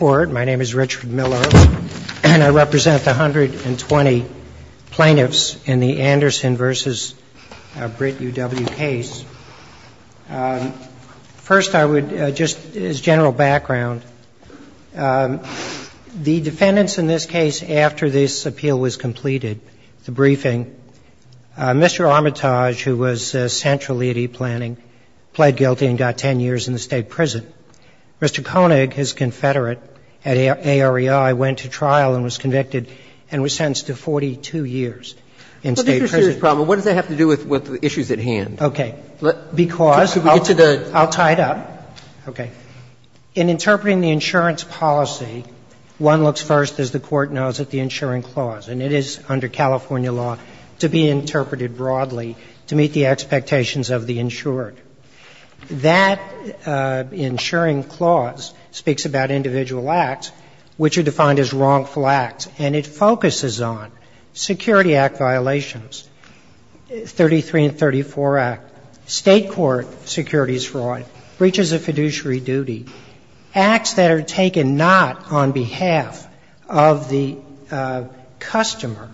My name is Richard Millo, and I represent the 120 plaintiffs in the Anderson v. Britt U.W. case. First, I would just, as general background, the defendants in this case, after this appeal was completed, the briefing, Mr. Armitage, who was centrally at e-planning, pled guilty and got 10 years in the State prison. Mr. Koenig, his confederate at AREI, went to trial and was convicted and was sentenced to 42 years in State prison. But this is a serious problem. What does that have to do with the issues at hand? Okay. Because I'll tie it up. Okay. In interpreting the insurance policy, one looks first, as the Court knows, at the insuring clause. And it is, under California law, to be interpreted broadly to meet the expectations of the insured. That insuring clause speaks about individual acts, which are defined as wrongful acts. And it focuses on Security Act violations, 33 and 34 Act, State court securities fraud, breaches of fiduciary duty, acts that are taken not on behalf of the customer,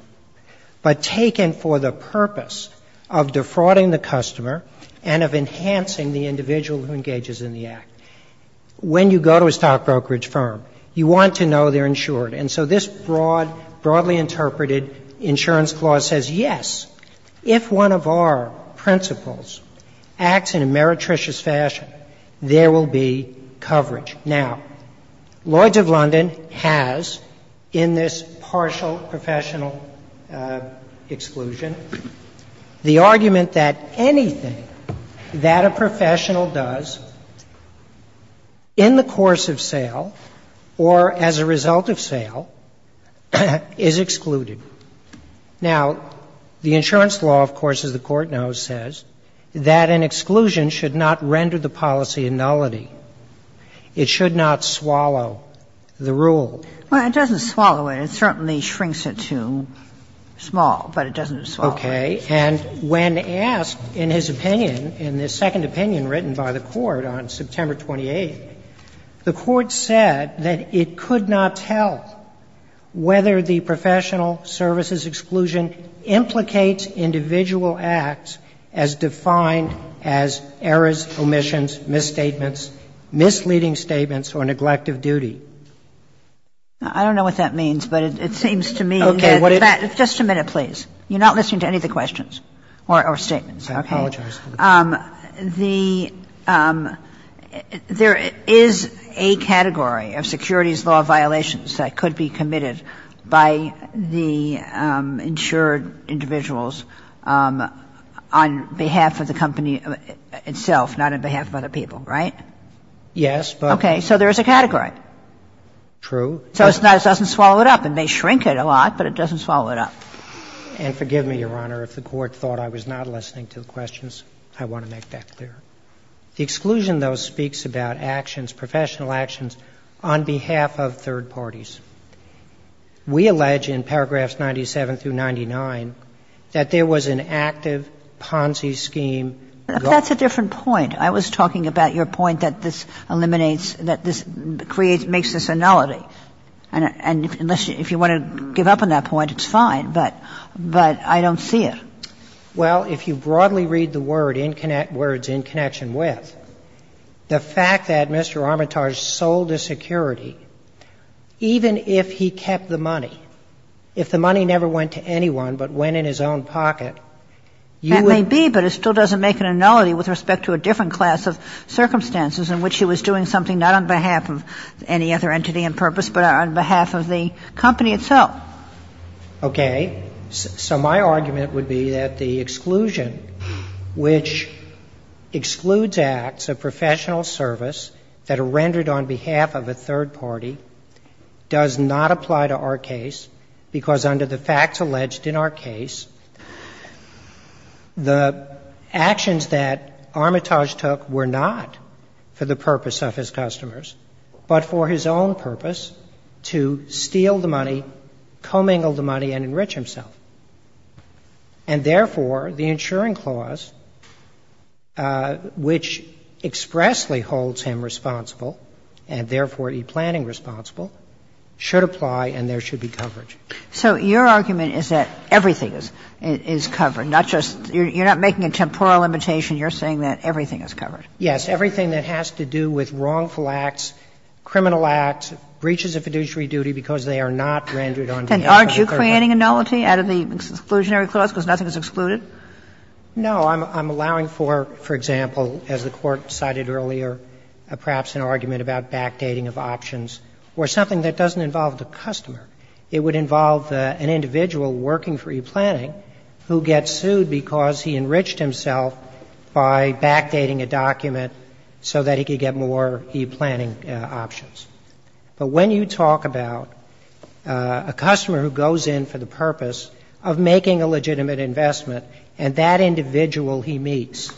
but taken for the purpose of defrauding the customer and of enhancing the individual who engages in the act. When you go to a stock brokerage firm, you want to know they're insured. And so this broad, broadly interpreted insurance clause says, yes, if one of our principles acts in a meretricious fashion, there will be coverage. Now, Lloyds of London has, in this partial professional exclusion, the argument that anything that a professional does in the course of sale or as a result of sale is excluded. Now, the insurance law, of course, as the Court knows, says that an exclusion should not render the policy a nullity. It should not swallow the rule. Well, it doesn't swallow it. It certainly shrinks it to small, but it doesn't swallow it. Okay. And when asked in his opinion, in the second opinion written by the Court on September 28th, the Court said that it could not tell whether the professional services exclusion implicates individual acts as defined as errors, omissions, misstatements, misleading statements, or neglect of duty. I don't know what that means, but it seems to me that that's just a minute, please. You're not listening to any of the questions or statements. I apologize for the delay. There is a category of securities law violations that could be committed by the insured individuals on behalf of the company itself, not on behalf of other people, right? Yes, but there is a category. True. So it doesn't swallow it up. It may shrink it a lot, but it doesn't swallow it up. And forgive me, Your Honor, if the Court thought I was not listening to the questions. I want to make that clear. The exclusion, though, speaks about actions, professional actions on behalf of third parties. We allege in paragraphs 97 through 99 that there was an active Ponzi scheme. That's a different point. I was talking about your point that this eliminates, that this creates, makes this a nullity. And if you want to give up on that point, it's fine, but I don't see it. Well, if you broadly read the words, in connection with, the fact that Mr. Armitage sold a security, even if he kept the money, if the money never went to anyone but went in his own pocket, you would That may be, but it still doesn't make a nullity with respect to a different class of circumstances in which he was doing something not on behalf of any other entity and purpose, but on behalf of the company itself. Okay. So my argument would be that the exclusion, which excludes acts of professional service that are rendered on behalf of a third party, does not apply to our case, because under the facts alleged in our case, the actions that Armitage took were not for the purpose of his customers, but for his own purpose to steal the money, commingle the money, and enrich himself. And therefore, the insuring clause, which expressly holds him responsible, and therefore e-planning responsible, should apply and there should be coverage. So your argument is that everything is covered, not just you're not making a temporal limitation, you're saying that everything is covered. Yes. Everything that has to do with wrongful acts, criminal acts, breaches of fiduciary duty because they are not rendered on behalf of a third party. And aren't you creating a nullity out of the exclusionary clause because nothing is excluded? No. I'm allowing for, for example, as the Court cited earlier, perhaps an argument about backdating of options or something that doesn't involve the customer. It would involve an individual working for e-planning who gets sued because he enriched himself by backdating a document so that he could get more e-planning options. But when you talk about a customer who goes in for the purpose of making a legitimate investment and that individual he meets,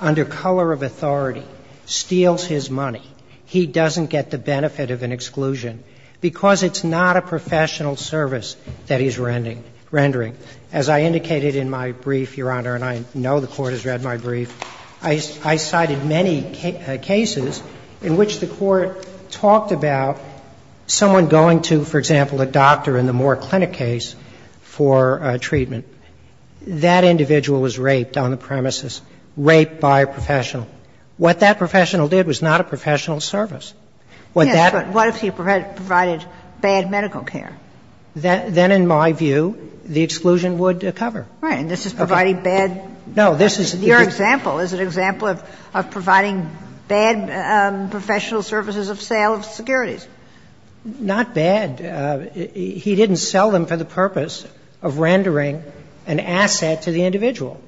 under color of authority, steals his money, he doesn't get the benefit of an exclusion because it's not a professional service that he's rendering. As I indicated in my brief, Your Honor, and I know the Court has read my brief, I cited many cases in which the Court talked about someone going to, for example, a doctor in the Moore Clinic case for treatment. That individual was raped on the premises, raped by a professional. What that professional did was not a professional service. What that. Yes, but what if he provided bad medical care? Then in my view, the exclusion would cover. Right. And this is providing bad. No, this is. Your example is an example of providing bad professional services of sale of securities. Not bad. He didn't sell them for the purpose of rendering an asset to the individual.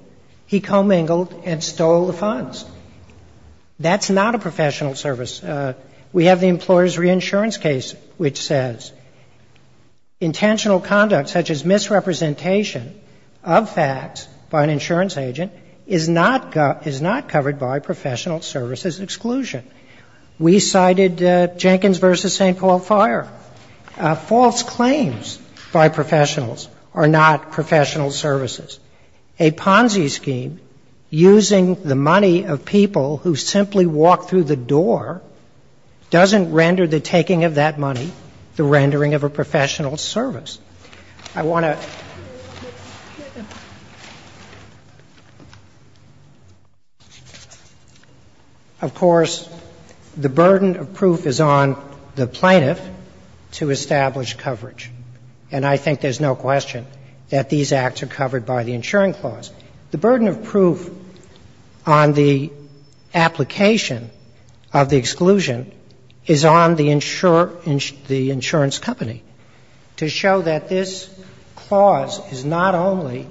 He commingled and stole the funds. That's not a professional service. We have the employer's reinsurance case which says intentional conduct such as misrepresentation of facts by an insurance agent is not covered by professional services exclusion. We cited Jenkins v. St. Paul Fire. False claims by professionals are not professional services. A Ponzi scheme using the money of people who simply walk through the door doesn't render the taking of that money the rendering of a professional service. I want to. Of course, the burden of proof is on the plaintiff to establish coverage. And I think there's no question that these acts are covered by the insuring clause. The burden of proof on the application of the exclusion is on the insurer, the insurance company, to show that this clause is not only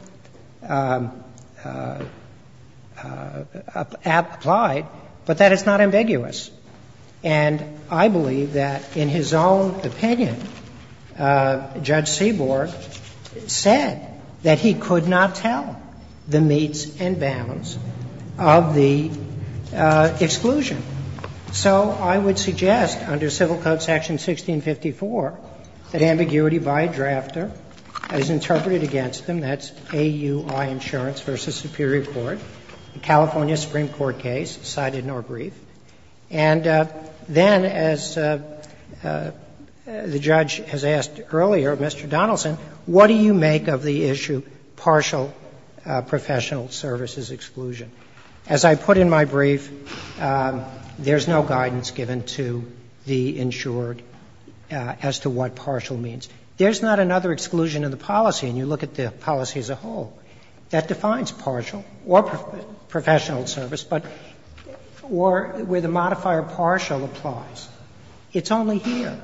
applied, but that it's not ambiguous. And I believe that in his own opinion, Judge Seaborg said that he could not tell the meets and bounds of the exclusion. So I would suggest under Civil Code Section 1654 that ambiguity by a drafter is interpreted against them. That's AUI Insurance v. Superior Court, a California Supreme Court case cited in our brief. And then as the judge has asked earlier, Mr. Donaldson, what do you make of the issue partial professional services exclusion? As I put in my brief, there's no guidance given to the insured as to what partial means. There's not another exclusion in the policy, and you look at the policy as a whole that defines partial or professional service, but where the modifier partial applies. It's only here.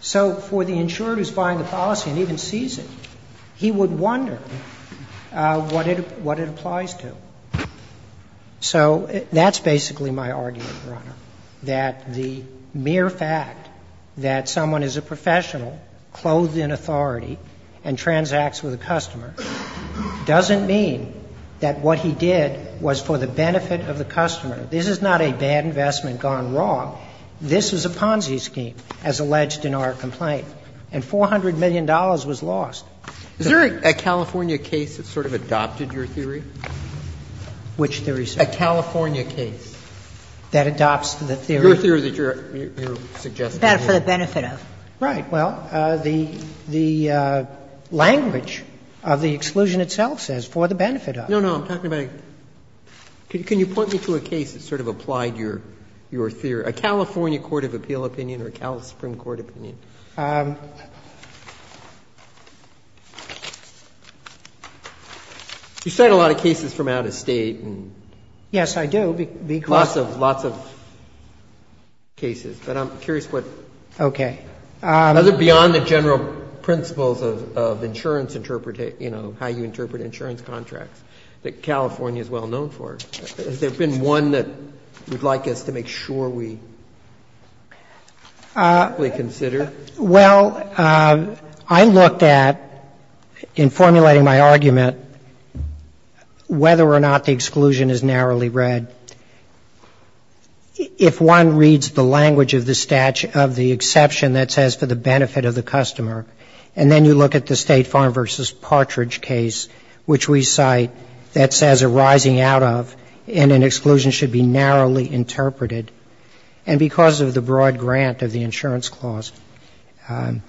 So for the insured who's buying the policy and even sees it, he would wonder what it applies to. So that's basically my argument, Your Honor, that the mere fact that someone is a professional, clothed in authority, and transacts with a customer doesn't mean that what he did was for the benefit of the customer. This is not a bad investment gone wrong. This is a Ponzi scheme, as alleged in our complaint. And $400 million was lost. Is there a California case that sort of adopted your theory? Which theory, sir? A California case. That adopts the theory? Your theory that you're suggesting. Right. Well, the language of the exclusion itself says for the benefit of. No, no. I'm talking about a — can you point me to a case that sort of applied your theory? A California court of appeal opinion or a California Supreme Court opinion? You cite a lot of cases from out of State. Yes, I do. Lots of cases. But I'm curious what — Okay. Is it beyond the general principles of insurance interpretation, you know, how you interpret insurance contracts, that California is well known for? Has there been one that you'd like us to make sure we consider? Well, I looked at, in formulating my argument, whether or not the exclusion is narrowly interpreted. And there's a number of cases that I've read. If one reads the language of the exception that says for the benefit of the customer and then you look at the State Farm v. Partridge case, which we cite, that says a rising out of and an exclusion should be narrowly interpreted, and because of the broad grant of the insurance clause. So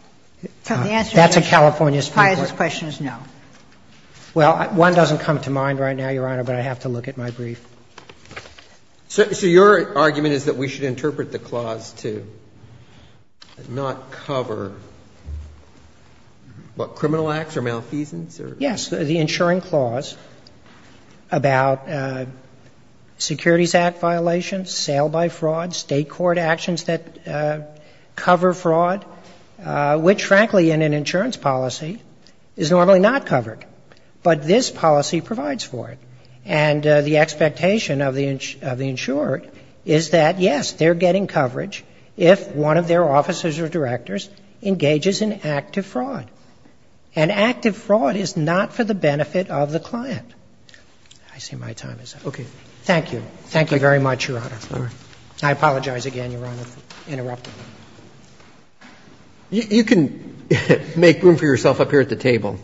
the answer is no. That's a California Supreme Court. The tie to this question is no. Well, one doesn't come to mind right now, Your Honor, but I have to look at my brief. So your argument is that we should interpret the clause to not cover, what, criminal acts or malfeasance? Yes. The insuring clause about securities act violations, sale by fraud, State court actions that cover fraud, which, frankly, in an insurance policy is normally not covered. But this policy provides for it. And the expectation of the insurer is that, yes, they're getting coverage if one of their officers or directors engages in active fraud. And active fraud is not for the benefit of the client. I see my time is up. Okay. Thank you. Thank you very much, Your Honor. I apologize again, Your Honor, for interrupting. You can make room for yourself up here at the table.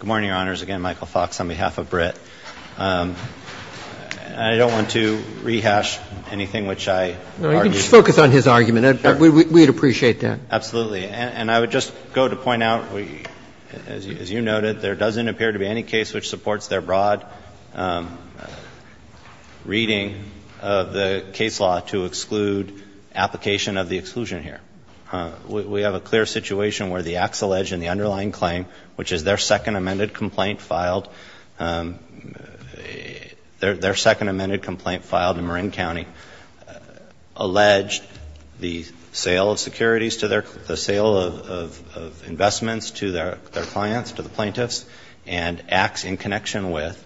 Good morning, Your Honors. Again, Michael Fox on behalf of BRIT. I don't want to rehash anything which I argued. No, you can just focus on his argument. We'd appreciate that. Absolutely. And I would just go to point out, as you noted, there doesn't appear to be any case which supports their broad reading of the case law to exclude application of the exclusion here. We have a clear situation where the acts alleged in the underlying claim, which is their second amended complaint filed, their second amended complaint filed in Marin County, alleged the sale of securities to their, the sale of investments to their clients, to the plaintiffs, and acts in connection with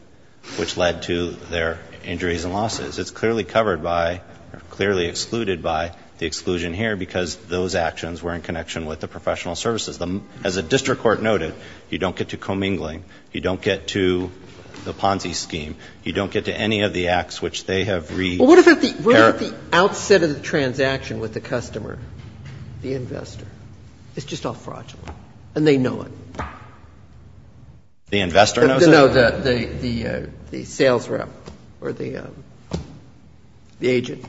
which led to their injuries and losses. It's clearly covered by or clearly excluded by the exclusion here because those actions were in connection with the professional services. As the district court noted, you don't get to commingling. You don't get to the Ponzi scheme. You don't get to any of the acts which they have read. Well, what about the outset of the transaction with the customer, the investor? It's just all fraudulent. And they know it. The investor knows it? No, the sales rep or the agent.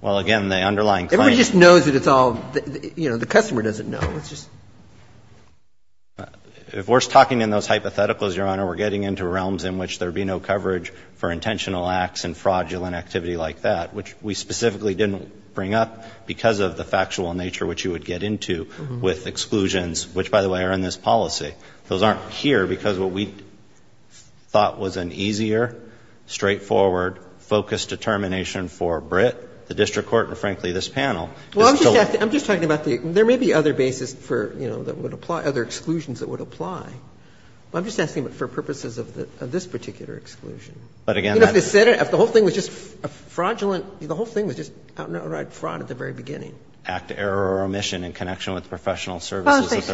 Well, again, the underlying claim. Everyone just knows that it's all, you know, the customer doesn't know. It's just. If we're talking in those hypotheticals, Your Honor, we're getting into realms in which there would be no coverage for intentional acts and fraudulent activity like that, which we specifically didn't bring up because of the factual nature which you would get into with exclusions, which, by the way, are in this policy. Those aren't here because what we thought was an easier, straightforward, focused determination for Britt, the district court, and frankly, this panel. Well, I'm just talking about the. There may be other bases for, you know, that would apply, other exclusions that would apply. I'm just asking for purposes of this particular exclusion. But again. If the whole thing was just fraudulent, the whole thing was just outright fraud at the very beginning. And I'm not going to get into that in this case. I'm just asking for a definition of fraudulent act of error or omission in connection with the professional services.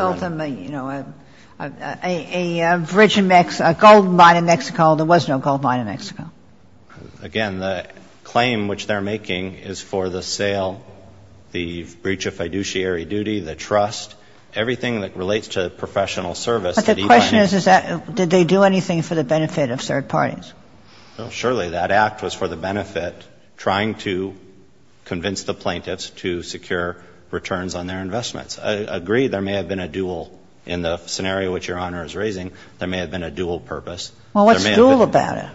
Sotomayor, a bridge in Mexico, a gold mine in Mexico. There was no gold mine in Mexico. Again, the claim which they're making is for the sale, the breach of fiduciary duty, the trust, everything that relates to professional service. But the question is that. And I'm not going to get into that in this case. And I'm not going to get into that in this case. Kagan. Did they do anything for the benefit of third parties? Surely that act was for the benefit, trying to convince the plaintiffs to secure returns on their investments. I agree there may have been a dual in the scenario which Your Honor is raising. There may have been a dual purpose. Well, what's dual about it?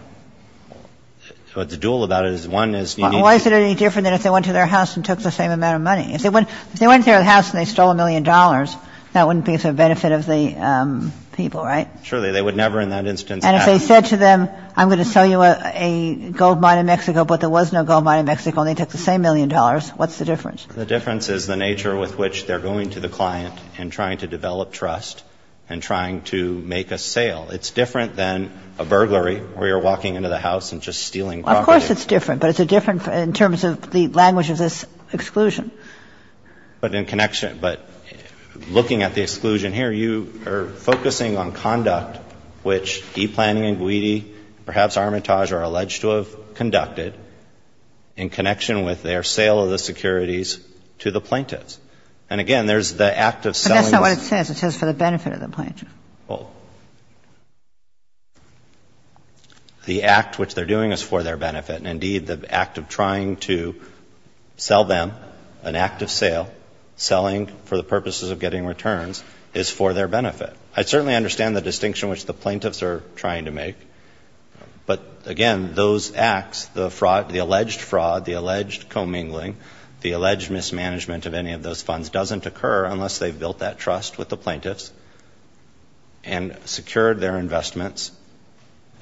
What's dual about it is one is you need to. Why is it any different than if they went to their house and took the same amount of money? If they went to their house and they stole a million dollars, that wouldn't be for the benefit of the people, right? Surely. They would never in that instance have. And if they said to them, I'm going to sell you a gold mine in Mexico, but there was no gold mine in Mexico and they took the same million dollars, what's the difference? The difference is the nature with which they're going to the client and trying to make a sale. It's different than a burglary where you're walking into the house and just stealing property. Well, of course it's different, but it's different in terms of the language of this exclusion. But in connection. But looking at the exclusion here, you are focusing on conduct which e-planning and Guidi, perhaps Armitage, are alleged to have conducted in connection with their sale of the securities to the plaintiffs. And again, there's the act of selling. But that's not what it says. It says for the benefit of the plaintiffs. Well, the act which they're doing is for their benefit. And indeed, the act of trying to sell them an act of sale, selling for the purposes of getting returns, is for their benefit. I certainly understand the distinction which the plaintiffs are trying to make. But again, those acts, the fraud, the alleged fraud, the alleged commingling, the alleged mismanagement of any of those funds doesn't occur unless they've built that trust with the plaintiffs. And secured their investments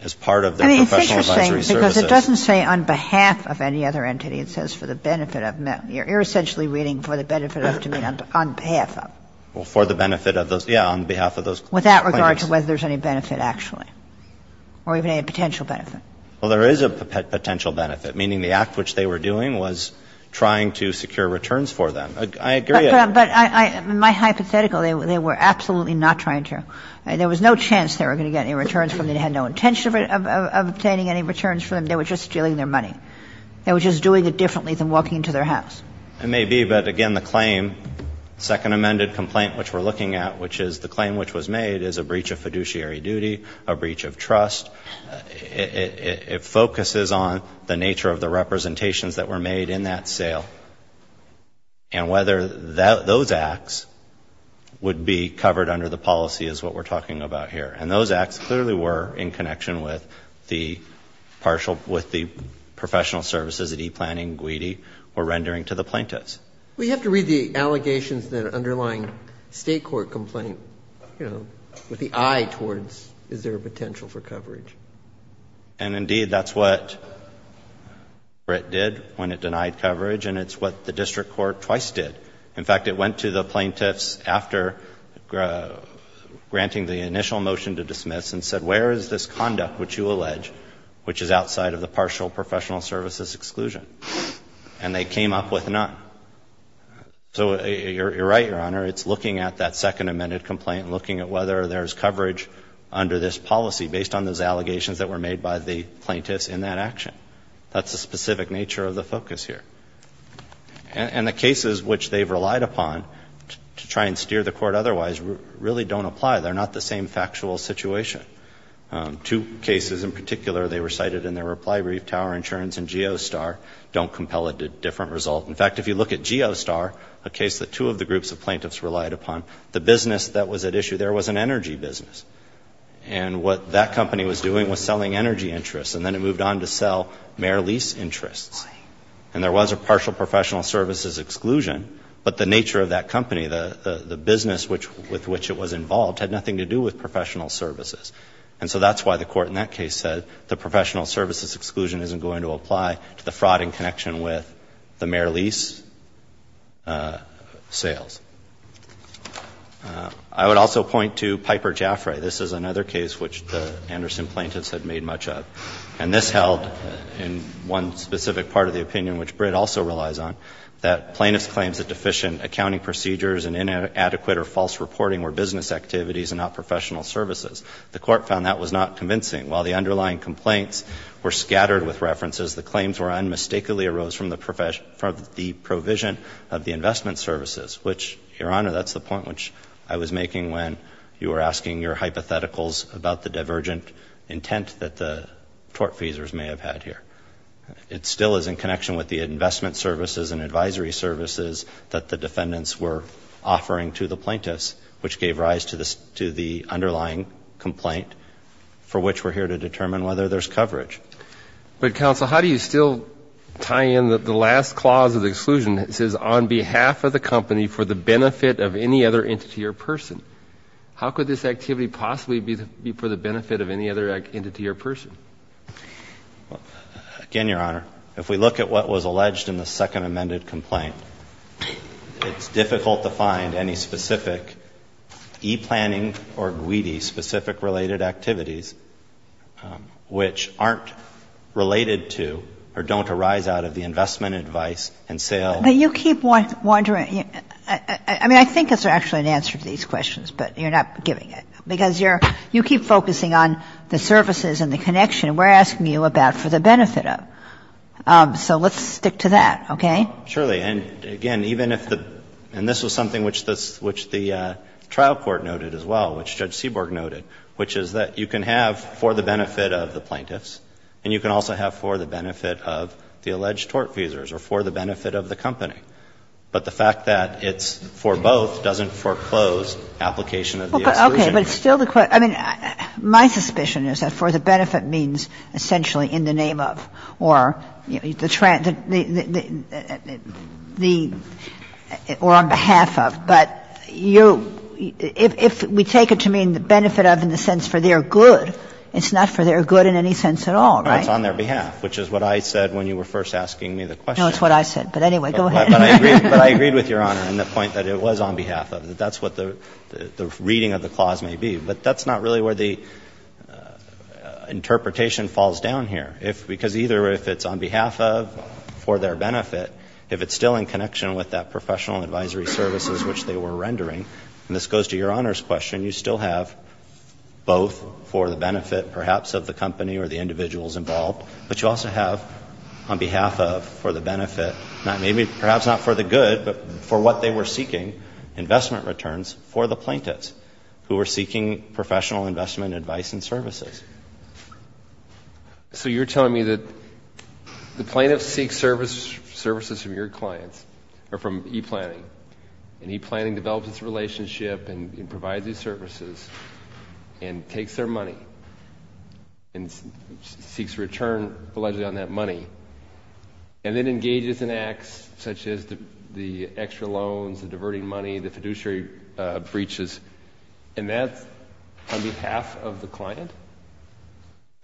as part of their professional advisory services. I mean, it's interesting, because it doesn't say on behalf of any other entity. It says for the benefit of. You're essentially reading for the benefit of to mean on behalf of. Well, for the benefit of those, yeah, on behalf of those plaintiffs. Without regard to whether there's any benefit, actually. Or even any potential benefit. Well, there is a potential benefit, meaning the act which they were doing was trying to secure returns for them. I agree. But my hypothetical, they were absolutely not trying to. There was no chance they were going to get any returns from them. They had no intention of obtaining any returns from them. They were just stealing their money. They were just doing it differently than walking into their house. It may be. But again, the claim, second amended complaint which we're looking at, which is the claim which was made is a breach of fiduciary duty, a breach of trust. It focuses on the nature of the representations that were made in that sale. And whether those acts would be covered under the policy is what we're talking about here. And those acts clearly were in connection with the partial, with the professional services, the e-planning, GWEDI, or rendering to the plaintiffs. We have to read the allegations that are underlying state court complaint, you know, with the eye towards is there a potential for coverage. And indeed, that's what it did when it denied coverage. And it's what the district court twice did. In fact, it went to the plaintiffs after granting the initial motion to dismiss and said, where is this conduct which you allege which is outside of the partial professional services exclusion? And they came up with none. So you're right, Your Honor. It's looking at that second amended complaint and looking at whether there's coverage under this policy based on those allegations that were made by the plaintiffs in that action. That's the specific nature of the focus here. And the cases which they've relied upon to try and steer the court otherwise really don't apply. They're not the same factual situation. Two cases in particular, they were cited in their reply brief, Tower Insurance and Geostar, don't compel a different result. In fact, if you look at Geostar, a case that two of the groups of plaintiffs relied upon, the business that was at issue there was an energy business. And what that company was doing was selling energy interests. And then it moved on to sell mayor lease interests. And there was a partial professional services exclusion, but the nature of that company, the business with which it was involved, had nothing to do with professional services. And so that's why the court in that case said the professional services exclusion isn't going to apply to the fraud in connection with the mayor lease sales. I would also point to Piper Jaffray. This is another case which the Anderson plaintiffs had made much of. And this held, in one specific part of the opinion which Britt also relies on, that plaintiffs' claims that deficient accounting procedures and inadequate or false reporting were business activities and not professional services. The court found that was not convincing. While the underlying complaints were scattered with references, the claims were unmistakably arose from the provision of the investment services, which, Your Honor, that's the point which I was making when you were asking your hypotheticals about the divergent intent that the tortfeasors may have had here. It still is in connection with the investment services and advisory services that the defendants were offering to the plaintiffs, which gave rise to the underlying complaint for which we're here to determine whether there's coverage. But, Counsel, how do you still tie in the last clause of the exclusion? It says, on behalf of the company, for the benefit of any other entity or person. How could this activity possibly be for the benefit of any other entity or person? Again, Your Honor, if we look at what was alleged in the second amended complaint, it's difficult to find any specific e-planning or GWEDI-specific related activities which aren't related to or don't arise out of the investment advice and sales. But you keep wondering. I mean, I think it's actually an answer to these questions, but you're not giving it, because you're you keep focusing on the services and the connection, and we're asking you about for the benefit of. So let's stick to that, okay? Surely. And, again, even if the and this was something which the trial court noted as well, which Judge Seaborg noted, which is that you can have for the benefit of the plaintiffs, and you can also have for the benefit of the alleged tort feasors or for the benefit of the company, but the fact that it's for both doesn't foreclose application of the exclusion. Okay. But it's still the question. I mean, my suspicion is that for the benefit means essentially in the name of or, you take it to mean the benefit of in the sense for their good. It's not for their good in any sense at all, right? It's on their behalf, which is what I said when you were first asking me the question. No, it's what I said. But, anyway, go ahead. But I agreed with Your Honor in the point that it was on behalf of. That's what the reading of the clause may be. But that's not really where the interpretation falls down here. Because either if it's on behalf of, for their benefit, if it's still in connection with that professional advisory services which they were rendering, and this goes to Your Honor's question, you still have both for the benefit perhaps of the company or the individuals involved, but you also have on behalf of for the benefit, maybe perhaps not for the good, but for what they were seeking, investment returns for the plaintiffs who were seeking professional investment advice and services. So you're telling me that the plaintiffs seek services from your clients or from e-planning. And e-planning develops its relationship and provides these services and takes their money and seeks return allegedly on that money and then engages in acts such as the extra loans, the diverting money, the fiduciary breaches, and that's on behalf of the client?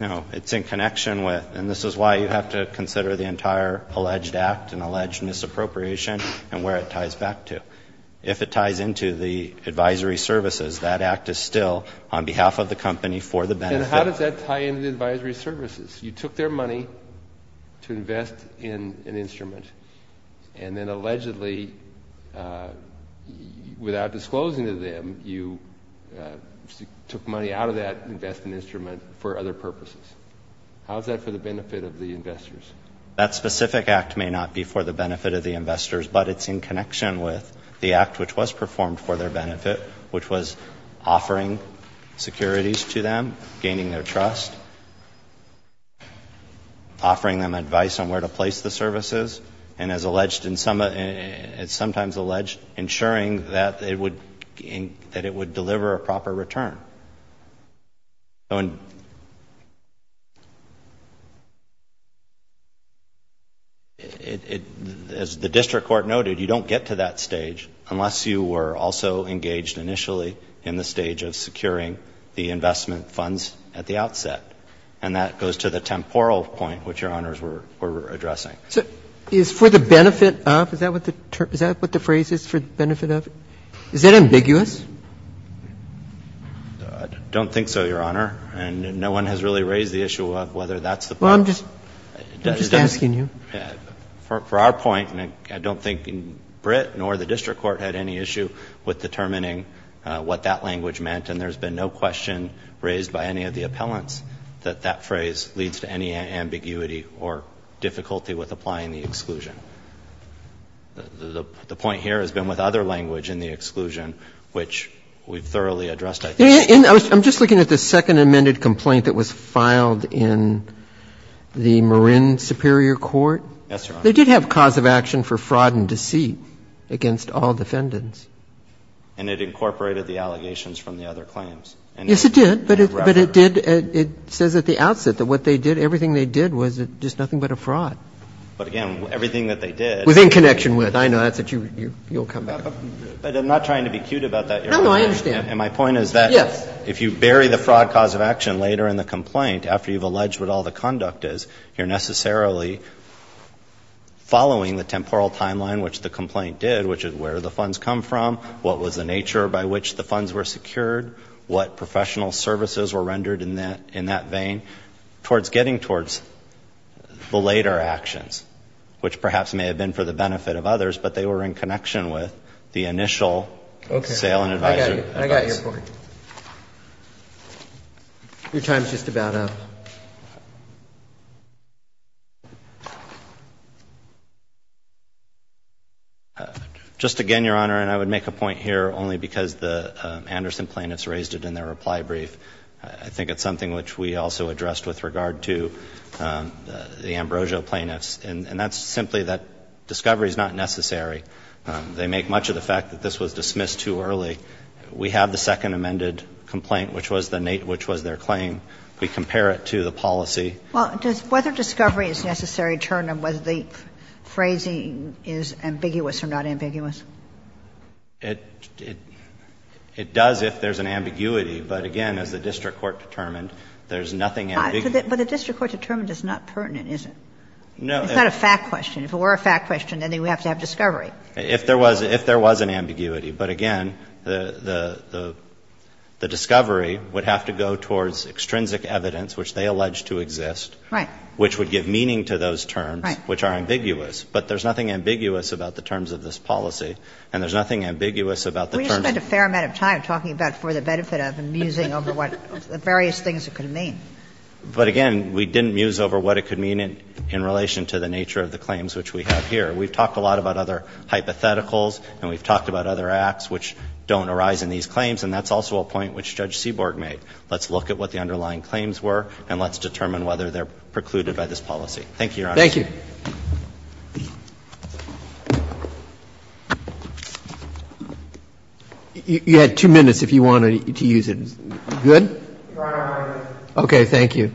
No. It's in connection with. And this is why you have to consider the entire alleged act and alleged misappropriation and where it ties back to. If it ties into the advisory services, that act is still on behalf of the company for the benefit. And how does that tie into the advisory services? You took their money to invest in an instrument and then allegedly, without disclosing to them, you took money out of that investment instrument for other purposes. How is that for the benefit of the investors? That specific act may not be for the benefit of the investors, but it's in connection with the act which was performed for their benefit, which was offering securities to them, gaining their trust, offering them advice on where to place the services, and as alleged in some, it's sometimes alleged, ensuring that it would deliver a proper return. As the district court noted, you don't get to that stage unless you were also engaged initially in the stage of securing the investment funds at the outset. And that goes to the temporal point, which Your Honors were addressing. Is for the benefit of? Is that what the phrase is, for the benefit of? Is that ambiguous? I don't think so, Your Honor. And no one has really raised the issue of whether that's the point. Well, I'm just asking you. For our point, I don't think Brit nor the district court had any issue with determining what that language meant, and there's been no question raised by any of the appellants that that phrase leads to any ambiguity or difficulty with applying the exclusion. The point here has been with other language in the exclusion, which we've thoroughly addressed, I think. I'm just looking at the second amended complaint that was filed in the Marin Superior Court. Yes, Your Honor. They did have cause of action for fraud and deceit against all defendants. And it incorporated the allegations from the other claims. Yes, it did. But it did. but a fraud. But again, everything that they did. Was in connection with. I know that's what you'll come back to. But I'm not trying to be cute about that, Your Honor. No, no, I understand. And my point is that if you bury the fraud cause of action later in the complaint after you've alleged what all the conduct is, you're necessarily following the temporal timeline, which the complaint did, which is where the funds come from, what was the nature by which the funds were secured, what professional services were rendered in that vein, towards getting towards the later actions, which perhaps may have been for the benefit of others, but they were in connection with the initial sale and advisory. Okay. I got your point. Your time is just about up. Just again, Your Honor, and I would make a point here only because the Anderson plaintiffs raised it in their reply brief. I think it's something which we also addressed with regard to the Ambrosio plaintiffs. And that's simply that discovery is not necessary. They make much of the fact that this was dismissed too early. We have the second amended complaint, which was their claim. We compare it to the policy. Well, does whether discovery is necessary determine whether the phrasing is ambiguous or not ambiguous? It does if there's an ambiguity. But again, as the district court determined, there's nothing ambiguous. But the district court determined it's not pertinent, is it? No. It's not a fact question. If it were a fact question, then they would have to have discovery. If there was an ambiguity. But again, the discovery would have to go towards extrinsic evidence, which they allege to exist, which would give meaning to those terms, which are ambiguous. But there's nothing ambiguous about the terms of this policy, and there's nothing ambiguous about the terms of the policy. Sotomayor, did we spend a fair amount of time talking about for the benefit of and musing over what various things it could mean? But again, we didn't muse over what it could mean in relation to the nature of the claims which we have here. We've talked a lot about other hypotheticals and we've talked about other acts which don't arise in these claims, and that's also a point which Judge Seaborg made. Let's look at what the underlying claims were and let's determine whether they're precluded by this policy. Thank you, Your Honor. Okay. You had two minutes if you wanted to use it. Good? All right. Okay, thank you.